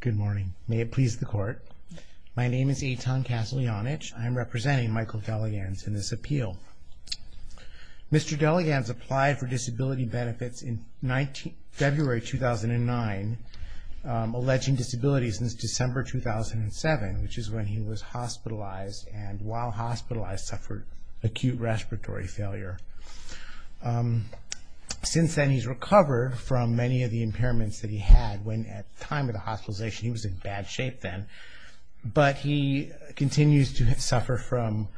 Good morning. May it please the court. My name is Eitan Kaslyanich. I am representing Michael Delegans in this appeal. Mr. Delegans applied for disability benefits in February 2009, alleging disability since December 2007, which is when he was hospitalized, and while hospitalized suffered acute respiratory failure. Since then, he's recovered from many of the impairments that he had when at the time of the hospitalization he was in bad shape then, but he continues to suffer from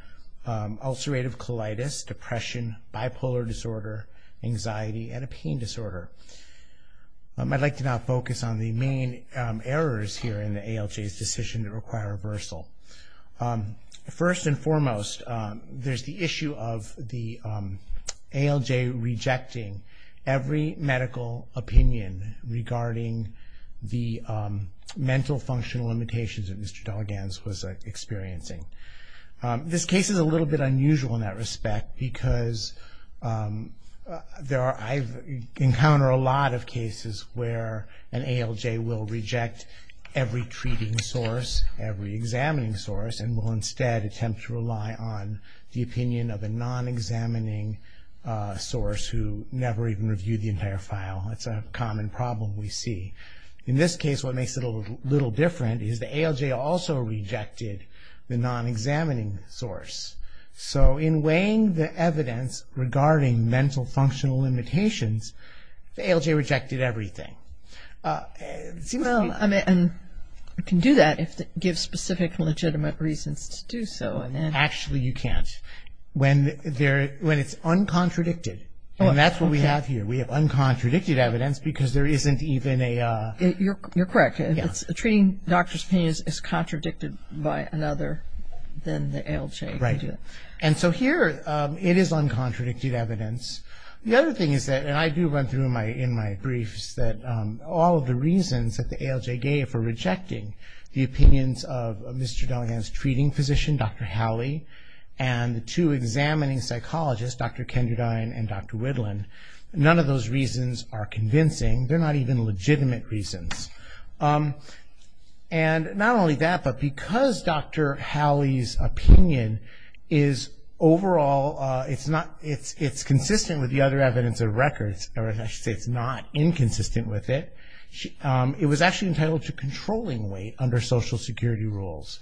ulcerative colitis, depression, bipolar disorder, anxiety, and a pain disorder. I'd like to now focus on the main errors here in the ALJ's decision to require reversal. First and foremost, there's the issue of the ALJ rejecting every medical opinion regarding the mental functional limitations that Mr. Delegans was experiencing. This case is a little bit unusual in that respect because I encounter a lot of cases where an ALJ will reject every treating source, every examining source, and will instead attempt to rely on the opinion of a non-examining source who never even reviewed the entire file. It's a common problem we see. In this case, what makes it a little different is the ALJ also rejected the non-examining source. So in weighing the evidence regarding mental functional limitations, the ALJ rejected everything. Well, I mean, you can do that if it gives specific legitimate reasons to do so. Actually, you can't. When it's uncontradicted, and that's what we have here. We have uncontradicted evidence because there isn't even a... You're correct. If a treating doctor's opinion is contradicted by another, then the ALJ can do it. Right. And so here it is uncontradicted evidence. The other thing is that, and I do run through in my briefs that all of the reasons that the ALJ gave for rejecting the opinions of Mr. Delegans' treating physician, Dr. Howley, and the two examining psychologists, Dr. Kenderdine and Dr. Whitlin, none of those reasons are convincing. They're not even legitimate reasons. And not only that, but because Dr. Howley's opinion is overall, it's consistent with the other evidence of records, or I should say it's not inconsistent with it. It was actually entitled to controlling weight under Social Security rules.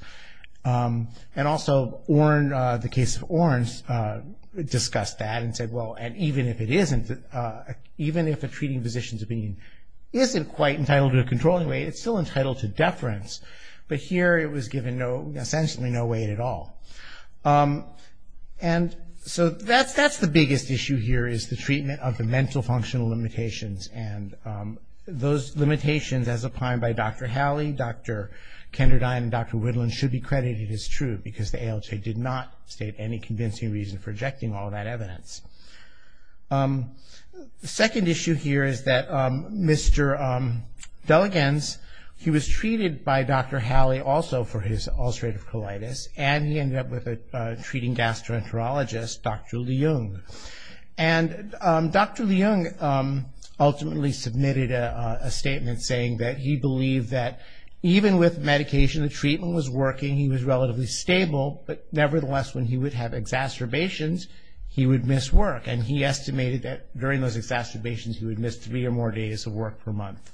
And also the case of Orens discussed that and said, well, and even if it isn't, even if a treating physician's opinion isn't quite entitled to controlling weight, it's still entitled to deference. But here it was given essentially no weight at all. And so that's the biggest issue here, is the treatment of the mental functional limitations. And those limitations, as opined by Dr. Howley, Dr. Kenderdine, and Dr. Whitlin, should be credited as true because the ALJ did not state any convincing reason for rejecting all that evidence. The second issue here is that Mr. Delegans, he was treated by Dr. Howley also for his ulcerative colitis, and he ended up with a treating gastroenterologist, Dr. Leung. And Dr. Leung ultimately submitted a statement saying that he believed that even with medication, the treatment was working, he was relatively stable, but nevertheless when he would have exacerbations, he would miss work. And he estimated that during those exacerbations he would miss three or more days of work per month.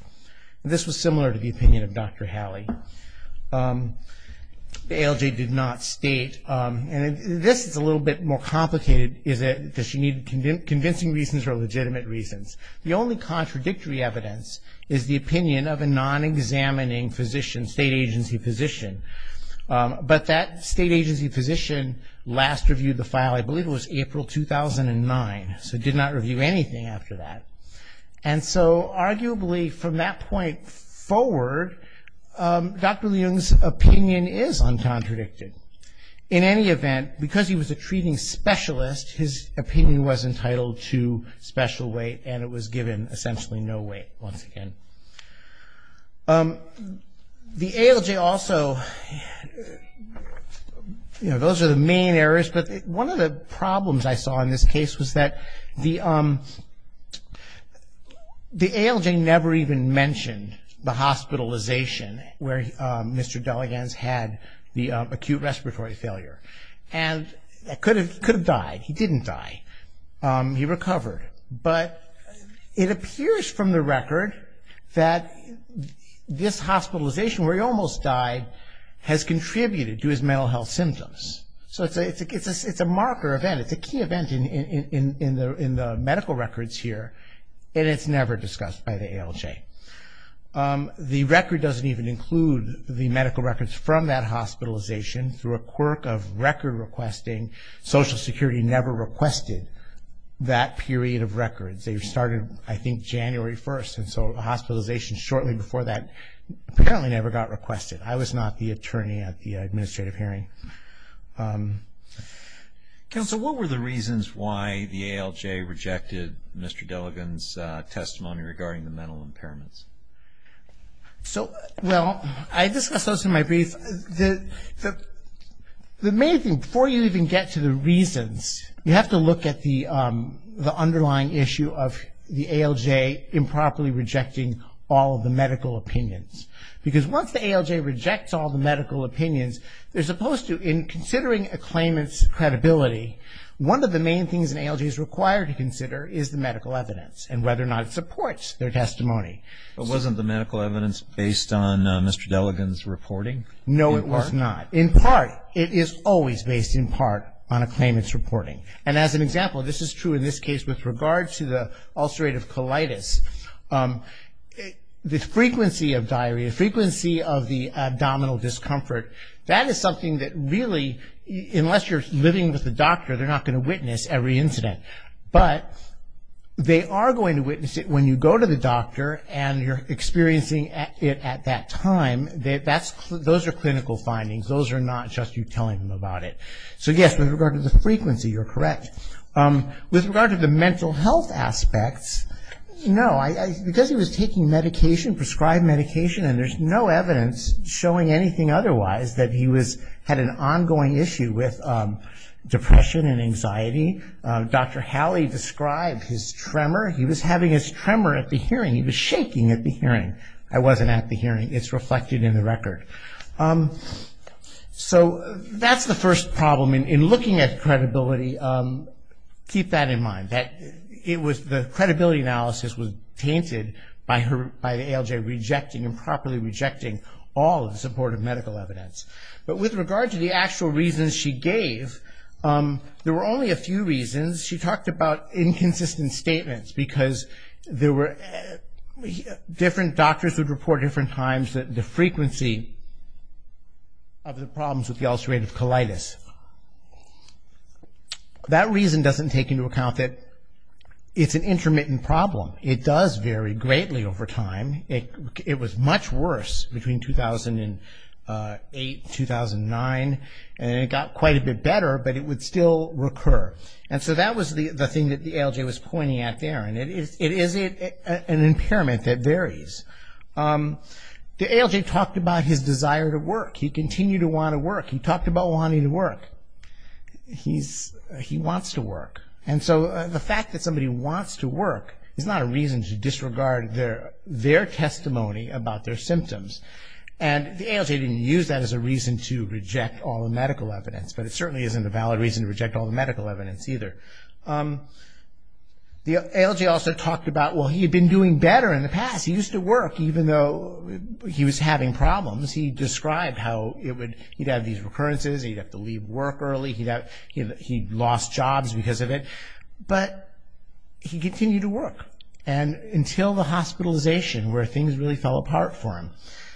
This was similar to the opinion of Dr. Howley. The ALJ did not state, and this is a little bit more complicated, is that she needed convincing reasons or legitimate reasons. The only contradictory evidence is the opinion of a non-examining physician, state agency physician. But that state agency physician last reviewed the file, I believe it was April 2009, so did not review anything after that. And so arguably from that point forward, Dr. Leung's opinion is uncontradicted. In any event, because he was a treating specialist, his opinion was entitled to special weight, and it was given essentially no weight once again. The ALJ also, you know, those are the main errors, but one of the problems I saw in this case was that the ALJ never even mentioned the hospitalization where Mr. Deleganz had the acute respiratory failure. And he could have died. He didn't die. He recovered. But it appears from the record that this hospitalization, where he almost died, has contributed to his mental health symptoms. So it's a marker event. It's a key event in the medical records here, and it's never discussed by the ALJ. The record doesn't even include the medical records from that hospitalization. Through a quirk of record requesting, Social Security never requested that period of records. They started, I think, January 1st, and so hospitalization shortly before that apparently never got requested. I was not the attorney at the administrative hearing. Counsel, what were the reasons why the ALJ rejected Mr. Deleganz's testimony regarding the mental impairments? So, well, I discussed those in my brief. The main thing, before you even get to the reasons, you have to look at the underlying issue of the ALJ improperly rejecting all of the medical opinions. Because once the ALJ rejects all the medical opinions, they're supposed to, in considering a claimant's credibility, one of the main things an ALJ is required to consider is the medical evidence and whether or not it supports their testimony. But wasn't the medical evidence based on Mr. Deleganz's reporting? No, it was not. In part, it is always based in part on a claimant's reporting. And as an example, this is true in this case with regard to the ulcerative colitis. The frequency of diarrhea, frequency of the abdominal discomfort, that is something that really, unless you're living with a doctor, they're not going to witness every incident. But they are going to witness it when you go to the doctor and you're experiencing it at that time. Those are clinical findings. Those are not just you telling them about it. So, yes, with regard to the frequency, you're correct. With regard to the mental health aspects, no. Because he was taking medication, prescribed medication, and there's no evidence showing anything otherwise, that he had an ongoing issue with depression and anxiety. Dr. Halley described his tremor. He was having his tremor at the hearing. He was shaking at the hearing. I wasn't at the hearing. It's reflected in the record. So that's the first problem in looking at credibility. Keep that in mind. The credibility analysis was tainted by ALJ rejecting, improperly rejecting all of the supportive medical evidence. But with regard to the actual reasons she gave, there were only a few reasons. She talked about inconsistent statements because there were different doctors and doctors would report different times that the frequency of the problems with the ulcerative colitis. That reason doesn't take into account that it's an intermittent problem. It does vary greatly over time. It was much worse between 2008, 2009, and it got quite a bit better, but it would still recur. And so that was the thing that the ALJ was pointing at there, and it is an impairment that varies. The ALJ talked about his desire to work. He continued to want to work. He talked about wanting to work. He wants to work. And so the fact that somebody wants to work is not a reason to disregard their testimony about their symptoms, and the ALJ didn't use that as a reason to reject all the medical evidence, but it certainly isn't a valid reason to reject all the medical evidence either. The ALJ also talked about, well, he had been doing better in the past. He used to work even though he was having problems. He described how he'd have these recurrences. He'd have to leave work early. He'd lost jobs because of it, but he continued to work until the hospitalization where things really fell apart for him.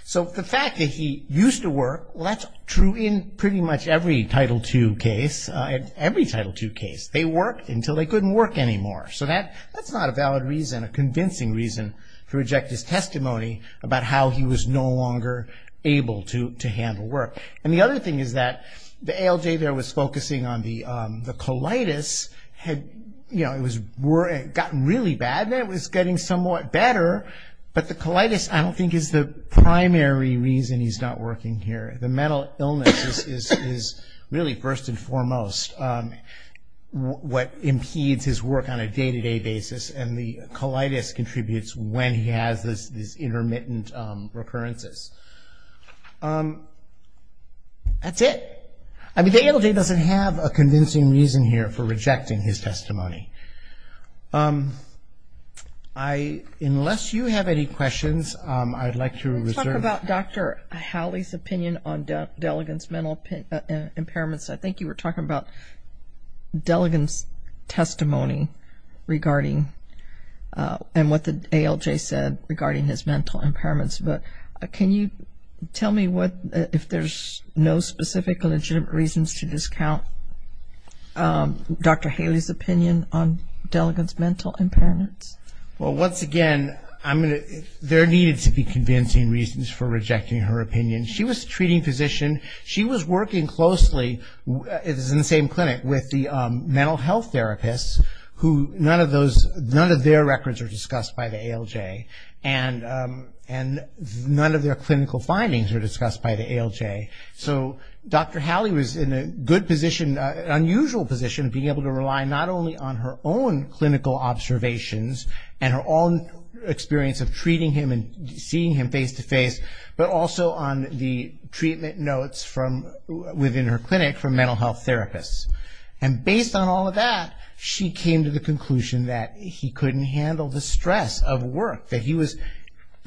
So the fact that he used to work, well, that's true in pretty much every Title II case, every Title II case. They worked until they couldn't work anymore. So that's not a valid reason, a convincing reason to reject his testimony about how he was no longer able to handle work. And the other thing is that the ALJ there was focusing on the colitis. It had gotten really bad, and it was getting somewhat better, but the colitis I don't think is the primary reason he's not working here. The mental illness is really first and foremost what impedes his work on a day-to-day basis, and the colitis contributes when he has these intermittent recurrences. That's it. I mean, the ALJ doesn't have a convincing reason here for rejecting his testimony. Unless you have any questions, I'd like to reserve. What about Dr. Haley's opinion on Delegant's mental impairments? I think you were talking about Delegant's testimony regarding and what the ALJ said regarding his mental impairments. Can you tell me if there's no specific legitimate reasons to discount Dr. Haley's opinion on Delegant's mental impairments? Well, once again, there needed to be convincing reasons for rejecting her opinion. She was a treating physician. She was working closely in the same clinic with the mental health therapists, who none of their records are discussed by the ALJ, and none of their clinical findings are discussed by the ALJ. So Dr. Haley was in a good position, an unusual position of being able to rely not only on her own clinical observations and her own experience of treating him and seeing him face-to-face, but also on the treatment notes within her clinic from mental health therapists. And based on all of that, she came to the conclusion that he couldn't handle the stress of work, the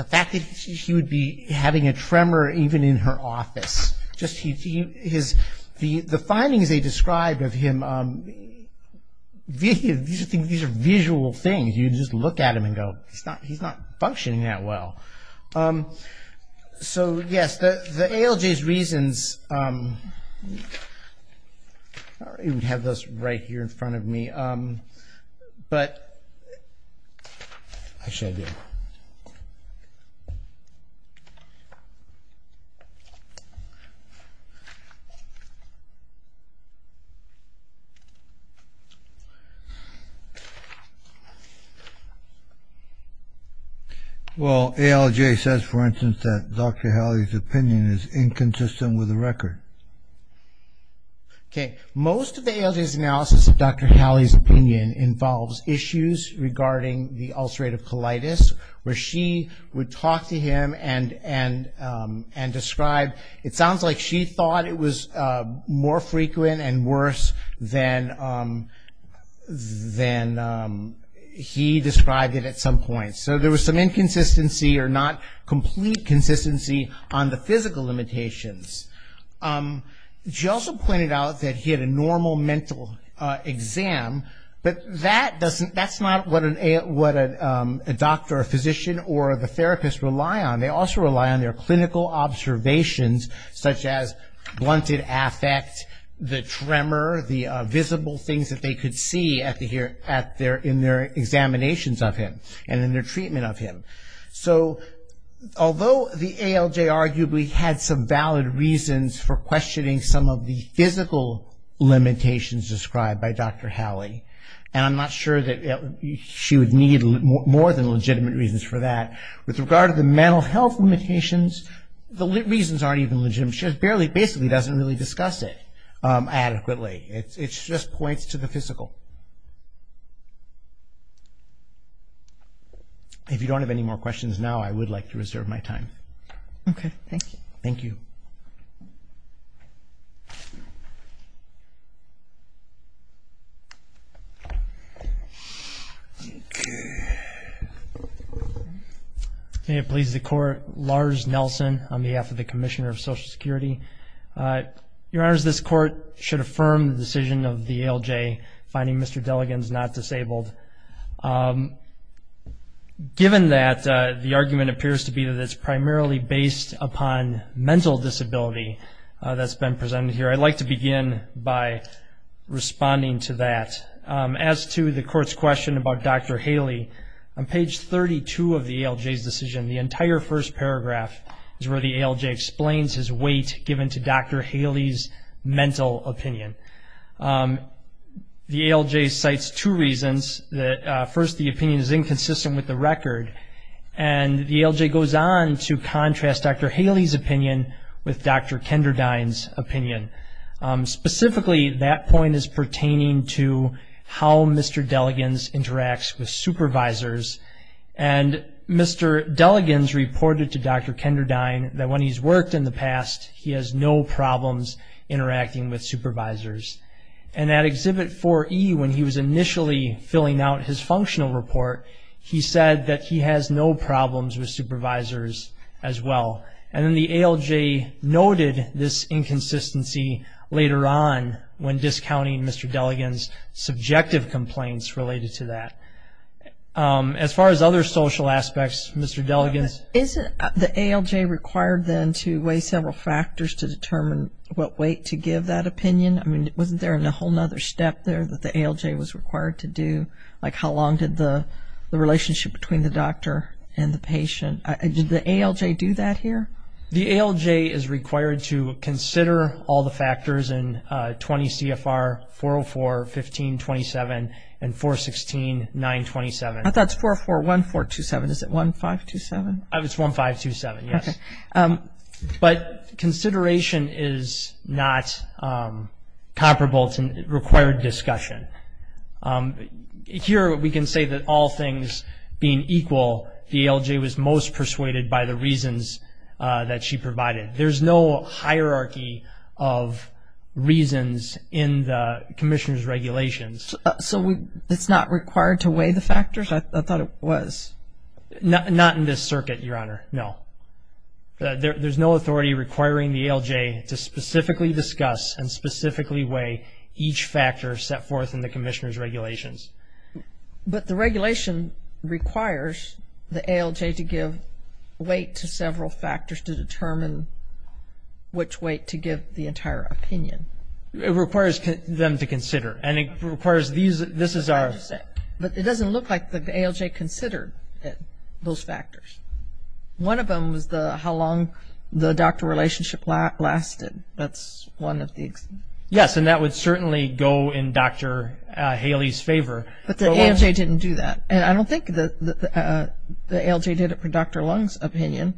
fact that he would be having a tremor even in her office. The findings they described of him, these are visual things. You just look at him and go, he's not functioning that well. So yes, the ALJ's reasons, we have those right here in front of me. But... Well, ALJ says, for instance, that Dr. Haley's opinion is inconsistent with the record. Okay. Most of the ALJ's analysis of Dr. Haley's opinion involves issues regarding the ulcerative colitis, where she would talk to him and describe, it sounds like she thought it was more frequent and worse than he described it at some point. So there was some inconsistency or not complete consistency on the physical limitations. She also pointed out that he had a normal mental exam, but that's not what a doctor or physician or the therapist rely on. They also rely on their clinical observations, such as blunted affect, the tremor, the visible things that they could see in their examinations of him. And then their treatment of him. So although the ALJ arguably had some valid reasons for questioning some of the physical limitations described by Dr. Haley, and I'm not sure that she would need more than legitimate reasons for that, with regard to the mental health limitations, the reasons aren't even legitimate. She just barely, basically doesn't really discuss it adequately. It just points to the physical. If you don't have any more questions now, I would like to reserve my time. Okay, thank you. Thank you. May it please the Court, Lars Nelson on behalf of the Commissioner of Social Security. Your Honors, this Court should affirm the decision of the ALJ, finding Mr. Delligan is not disabled. Given that the argument appears to be that it's primarily based upon mental disability that's been presented here, I'd like to begin by responding to that. As to the Court's question about Dr. Haley, on page 32 of the ALJ's decision, the entire first paragraph is where the ALJ explains his weight given to Dr. Haley's mental opinion. The ALJ cites two reasons. First, the opinion is inconsistent with the record, and the ALJ goes on to contrast Dr. Haley's opinion with Dr. Kenderdine's opinion. Specifically, that point is pertaining to how Mr. Delligan interacts with supervisors, and Mr. Delligan's reported to Dr. Kenderdine that when he's worked in the past, he has no problems interacting with supervisors. And at Exhibit 4E, when he was initially filling out his functional report, he said that he has no problems with supervisors as well. And then the ALJ noted this inconsistency later on when discounting Mr. Delligan's subjective complaints related to that. As far as other social aspects, Mr. Delligan's. Isn't the ALJ required then to weigh several factors to determine what weight to give that opinion? I mean, wasn't there a whole other step there that the ALJ was required to do, like how long did the relationship between the doctor and the patient? Did the ALJ do that here? The ALJ is required to consider all the factors in 20 CFR 404.15.27 and 416.9.27. That's 404.14.27. Is it 1527? It's 1527, yes. Okay. But consideration is not comparable. It's a required discussion. Here we can say that all things being equal, the ALJ was most persuaded by the reasons that she provided. There's no hierarchy of reasons in the commissioner's regulations. So it's not required to weigh the factors? I thought it was. Not in this circuit, Your Honor, no. There's no authority requiring the ALJ to specifically discuss and specifically weigh each factor set forth in the commissioner's regulations. But the regulation requires the ALJ to give weight to several factors to determine which weight to give the entire opinion. It requires them to consider. And it requires these, this is our. But it doesn't look like the ALJ considered those factors. One of them was how long the doctor relationship lasted. That's one of the. Yes, and that would certainly go in Dr. Haley's favor. But the ALJ didn't do that. And I don't think the ALJ did it for Dr. Lung's opinion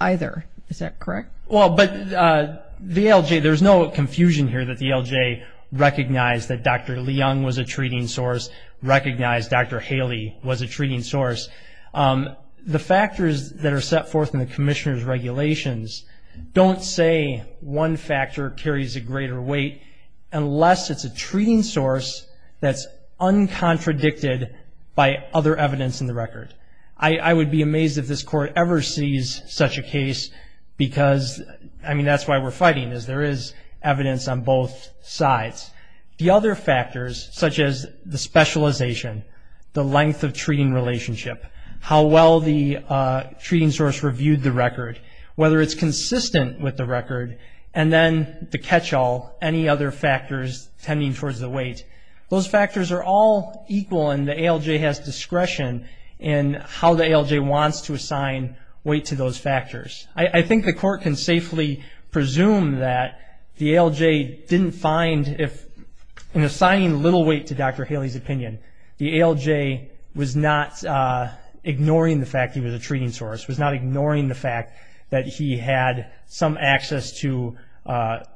either. Is that correct? Well, but the ALJ, there's no confusion here that the ALJ recognized that Dr. Leung was a treating source, recognized Dr. Haley was a treating source. The factors that are set forth in the commissioner's regulations don't say one factor carries a greater weight unless it's a treating source that's uncontradicted by other evidence in the record. I would be amazed if this Court ever sees such a case because, I mean, that's why we're fighting is there is evidence on both sides. The other factors, such as the specialization, the length of treating relationship, how well the treating source reviewed the record, whether it's consistent with the record, and then the catch-all, any other factors tending towards the weight. Those factors are all equal, and the ALJ has discretion in how the ALJ wants to assign weight to those factors. I think the Court can safely presume that the ALJ didn't find, in assigning little weight to Dr. Haley's opinion, the ALJ was not ignoring the fact he was a treating source, was not ignoring the fact that he had some access to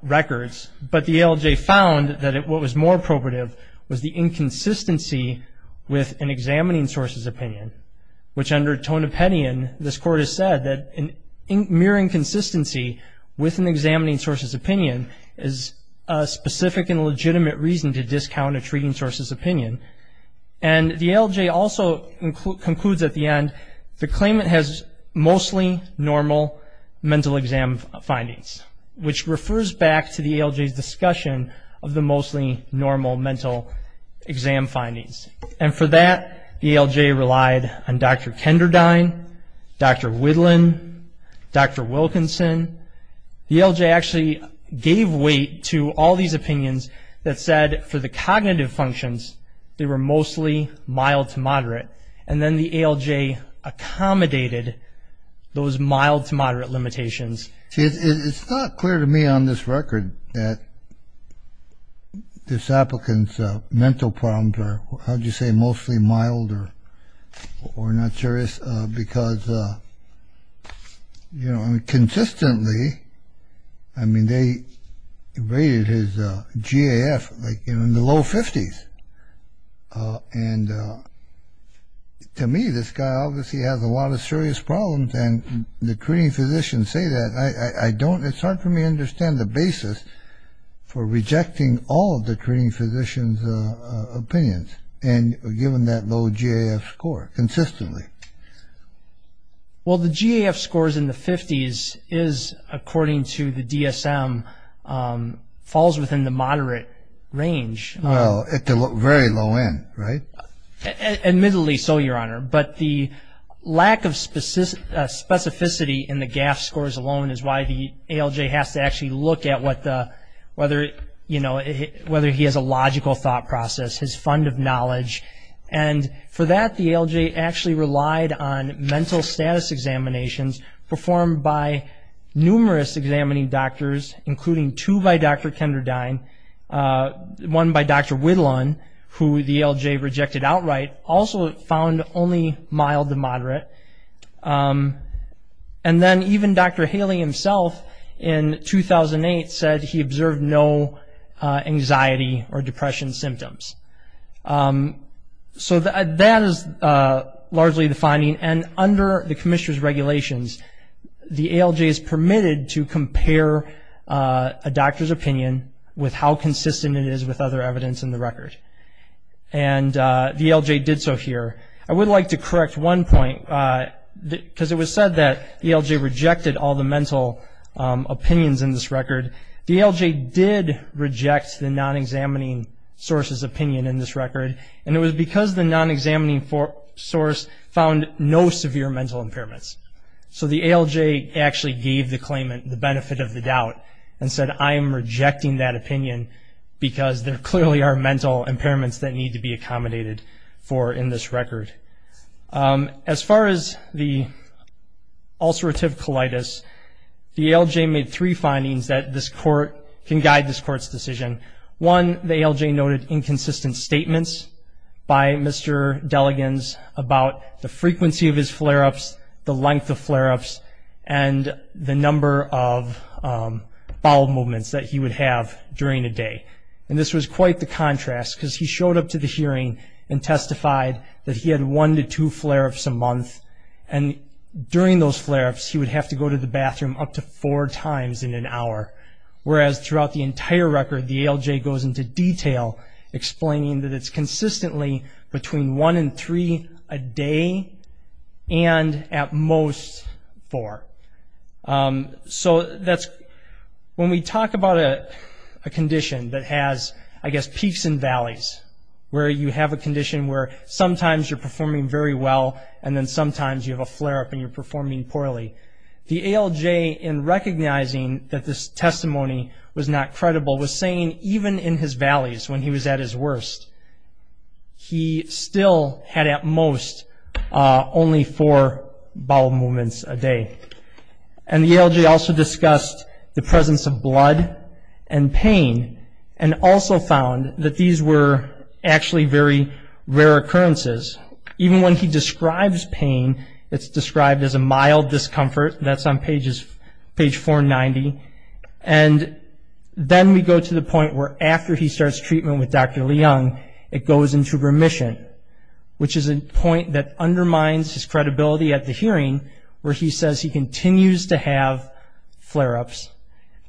records, but the ALJ found that what was more appropriate was the inconsistency with an examining source's opinion, which under Tonopetian, this Court has said that mere inconsistency with an examining source's opinion is a specific and legitimate reason to discount a treating source's opinion. And the ALJ also concludes at the end, the claimant has mostly normal mental exam findings, which refers back to the ALJ's discussion of the mostly normal mental exam findings. And for that, the ALJ relied on Dr. Kenderdine, Dr. Whitlin, Dr. Wilkinson. The ALJ actually gave weight to all these opinions that said for the cognitive functions, they were mostly mild to moderate, and then the ALJ accommodated those mild to moderate limitations. It's not clear to me on this record that this applicant's mental problems are, how would you say, mostly mild or not serious because, you know, consistently, I mean, they rated his GAF like in the low 50s. And to me, this guy obviously has a lot of serious problems and the treating physicians say that. I don't, it's hard for me to understand the basis for rejecting all the treating physicians' opinions and giving that low GAF score consistently. Well, the GAF scores in the 50s is, according to the DSM, falls within the moderate range. Well, at the very low end, right? Admittedly so, Your Honor. But the lack of specificity in the GAF scores alone is why the ALJ has to actually look at what the, whether, you know, whether he has a logical thought process, his fund of knowledge. And for that, the ALJ actually relied on mental status examinations performed by numerous examining doctors, including two by Dr. Kenderdine, one by Dr. Whittlon, who the ALJ rejected outright, also found only mild to moderate. And then even Dr. Haley himself in 2008 said he observed no anxiety or depression symptoms. So that is largely the finding. And under the commissioner's regulations, the ALJ is permitted to compare a doctor's opinion with how consistent it is with other evidence in the record. And the ALJ did so here. I would like to correct one point because it was said that the ALJ rejected all the mental opinions in this record. The ALJ did reject the non-examining source's opinion in this record, and it was because the non-examining source found no severe mental impairments. So the ALJ actually gave the claimant the benefit of the doubt and said, I am rejecting that opinion because there clearly are mental impairments that need to be accommodated for in this record. As far as the ulcerative colitis, the ALJ made three findings that this court, can guide this court's decision. One, the ALJ noted inconsistent statements by Mr. Delegans about the frequency of his flare-ups, the length of flare-ups, and the number of bowel movements that he would have during a day. And this was quite the contrast because he showed up to the hearing and testified that he had one to two flare-ups a month. And during those flare-ups, he would have to go to the bathroom up to four times in an hour. Whereas throughout the entire record, the ALJ goes into detail, explaining that it's consistently between one and three a day, and at most, four. So when we talk about a condition that has, I guess, peaks and valleys, where you have a condition where sometimes you're performing very well, and then sometimes you have a flare-up and you're performing poorly, the ALJ, in recognizing that this testimony was not credible, was saying even in his valleys, when he was at his worst, he still had at most only four bowel movements a day. And the ALJ also discussed the presence of blood and pain, and also found that these were actually very rare occurrences. Even when he describes pain, it's described as a mild discomfort. That's on page 490. And then we go to the point where after he starts treatment with Dr. Leung, it goes into remission, which is a point that undermines his credibility at the hearing, where he says he continues to have flare-ups.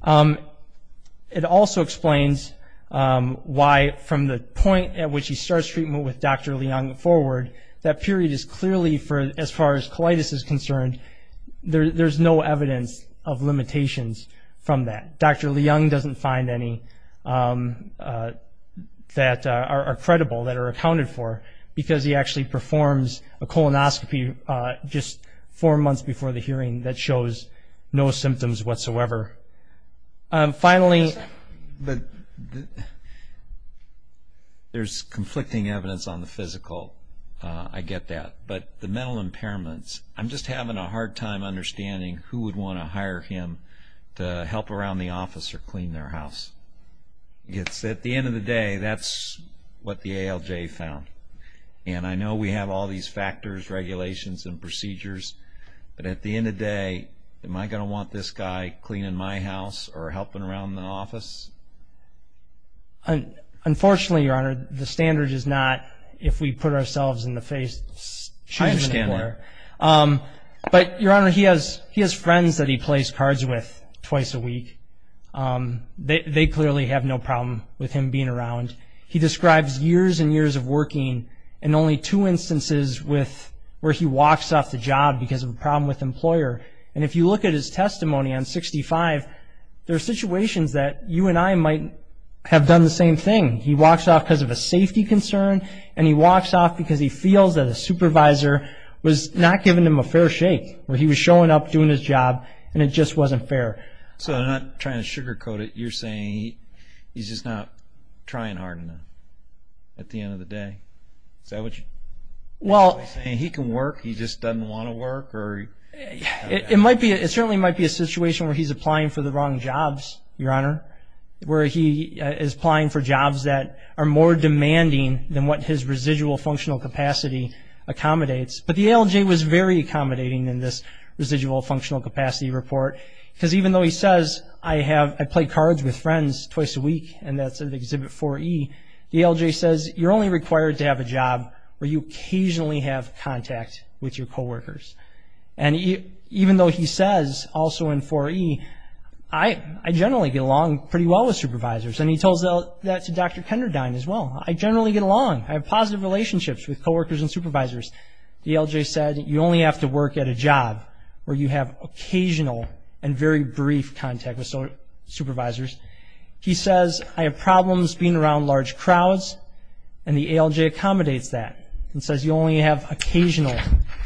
It also explains why from the point at which he starts treatment with Dr. Leung forward, that period is clearly, as far as colitis is concerned, there's no evidence of limitations from that. Dr. Leung doesn't find any that are credible, that are accounted for, because he actually performs a colonoscopy just four months before the hearing that shows no symptoms whatsoever. Finally, there's conflicting evidence on the physical, I get that. But the mental impairments, I'm just having a hard time understanding who would want to hire him to help around the office or clean their house. At the end of the day, that's what the ALJ found. And I know we have all these factors, regulations, and procedures, but at the end of the day, am I going to want this guy cleaning my house or helping around the office? Unfortunately, Your Honor, the standard is not if we put ourselves in the shoes of the employer. I understand that. But, Your Honor, he has friends that he plays cards with twice a week. They clearly have no problem with him being around. And he describes years and years of working, and only two instances where he walks off the job because of a problem with an employer. And if you look at his testimony on 65, there are situations that you and I might have done the same thing. He walks off because of a safety concern, and he walks off because he feels that a supervisor was not giving him a fair shake, where he was showing up, doing his job, and it just wasn't fair. So I'm not trying to sugarcoat it. You're saying he's just not trying hard enough at the end of the day? Is that what you're saying? He can work. He just doesn't want to work? It certainly might be a situation where he's applying for the wrong jobs, Your Honor, where he is applying for jobs that are more demanding than what his residual functional capacity accommodates. But the ALJ was very accommodating in this residual functional capacity report because even though he says, I play cards with friends twice a week, and that's in Exhibit 4E, the ALJ says, you're only required to have a job where you occasionally have contact with your coworkers. And even though he says, also in 4E, I generally get along pretty well with supervisors, and he tells that to Dr. Kenderdine as well. I generally get along. I have positive relationships with coworkers and supervisors. The ALJ said, you only have to work at a job where you have occasional and very brief contact with supervisors. He says, I have problems being around large crowds, and the ALJ accommodates that and says you only have occasional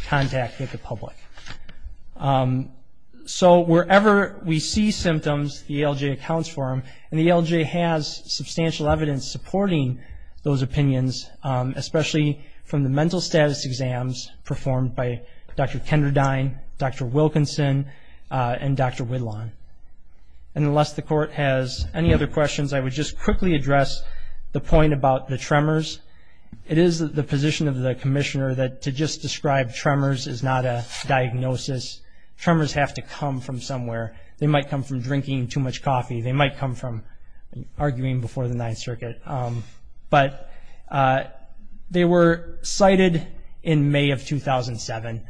contact with the public. So wherever we see symptoms, the ALJ accounts for them, and the ALJ has substantial evidence supporting those opinions, especially from the mental status exams performed by Dr. Kenderdine, Dr. Wilkinson, and Dr. Whitlawn. And unless the Court has any other questions, I would just quickly address the point about the tremors. It is the position of the Commissioner that to just describe tremors is not a diagnosis. Tremors have to come from somewhere. They might come from drinking too much coffee. They might come from arguing before the Ninth Circuit. But they were cited in May of 2007,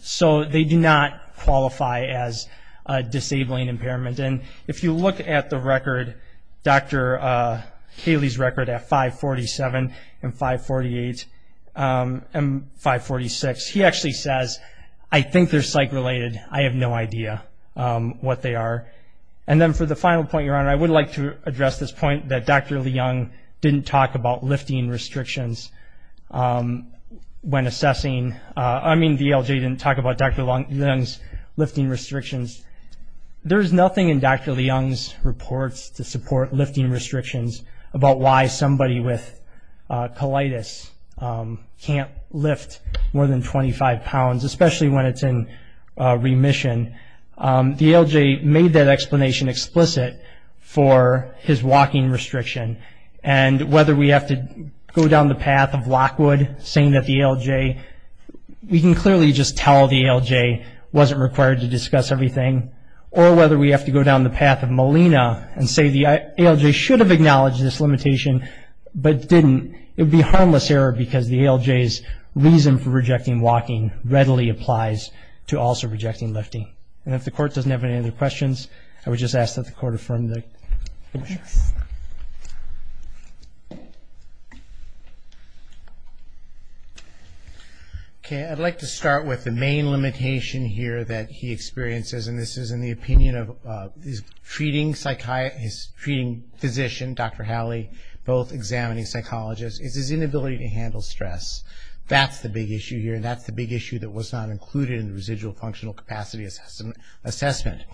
so they do not qualify as a disabling impairment. And if you look at the record, Dr. Haley's record at 547 and 548 and 546, he actually says, I think they're psych-related. I have no idea what they are. And then for the final point, Your Honor, I would like to address this point that Dr. Leung didn't talk about lifting restrictions when assessing ‑‑ I mean the ALJ didn't talk about Dr. Leung's lifting restrictions. There is nothing in Dr. Leung's reports to support lifting restrictions about why somebody with colitis can't lift more than 25 pounds, especially when it's in remission. The ALJ made that explanation explicit for his walking restriction. And whether we have to go down the path of Lockwood saying that the ALJ ‑‑ we can clearly just tell the ALJ wasn't required to discuss everything. Or whether we have to go down the path of Molina and say the ALJ should have acknowledged this limitation but didn't. It would be a harmless error because the ALJ's reason for rejecting walking readily applies to also rejecting lifting. And if the Court doesn't have any other questions, I would just ask that the Court affirm the motion. Okay, I'd like to start with the main limitation here that he experiences, and this is in the opinion of his treating physician, Dr. Haley, both examining psychologists, is his inability to handle stress. That's the big issue here. That's the big issue that was not included in the residual functional capacity assessment.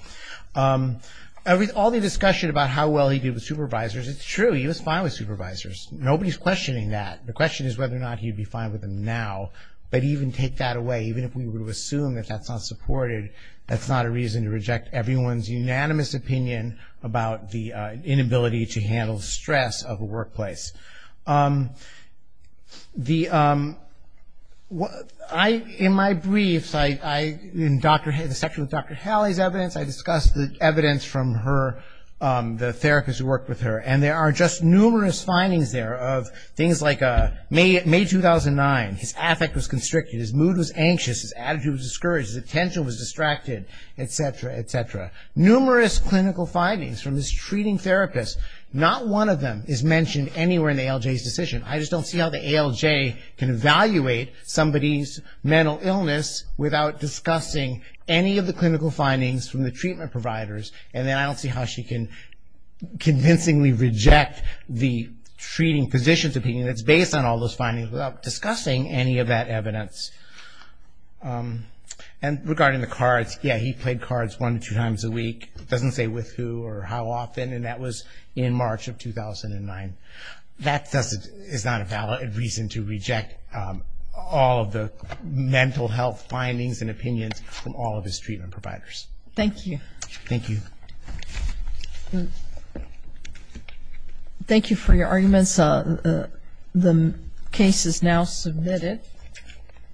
All the discussion about how well he did with supervisors, it's true, he was fine with supervisors. Nobody's questioning that. The question is whether or not he'd be fine with them now. But even take that away, even if we were to assume that that's not supported, that's not a reason to reject everyone's unanimous opinion about the inability to handle stress of a workplace. In my briefs, in the section with Dr. Haley's evidence, I discuss the evidence from the therapists who worked with her, and there are just numerous findings there of things like May 2009, his affect was constricted, his mood was anxious, his attitude was discouraged, his attention was distracted, etc., etc. Numerous clinical findings from this treating therapist. Not one of them is mentioned anywhere in the ALJ's decision. I just don't see how the ALJ can evaluate somebody's mental illness without discussing any of the clinical findings from the treatment providers, and then I don't see how she can convincingly reject the treating physician's opinion that's based on all those findings without discussing any of that evidence. And regarding the cards, yeah, he played cards one to two times a week. It doesn't say with who or how often, and that was in March of 2009. That is not a valid reason to reject all of the mental health findings and opinions from all of his treatment providers. Thank you. Thank you. Thank you for your arguments. The case is now submitted.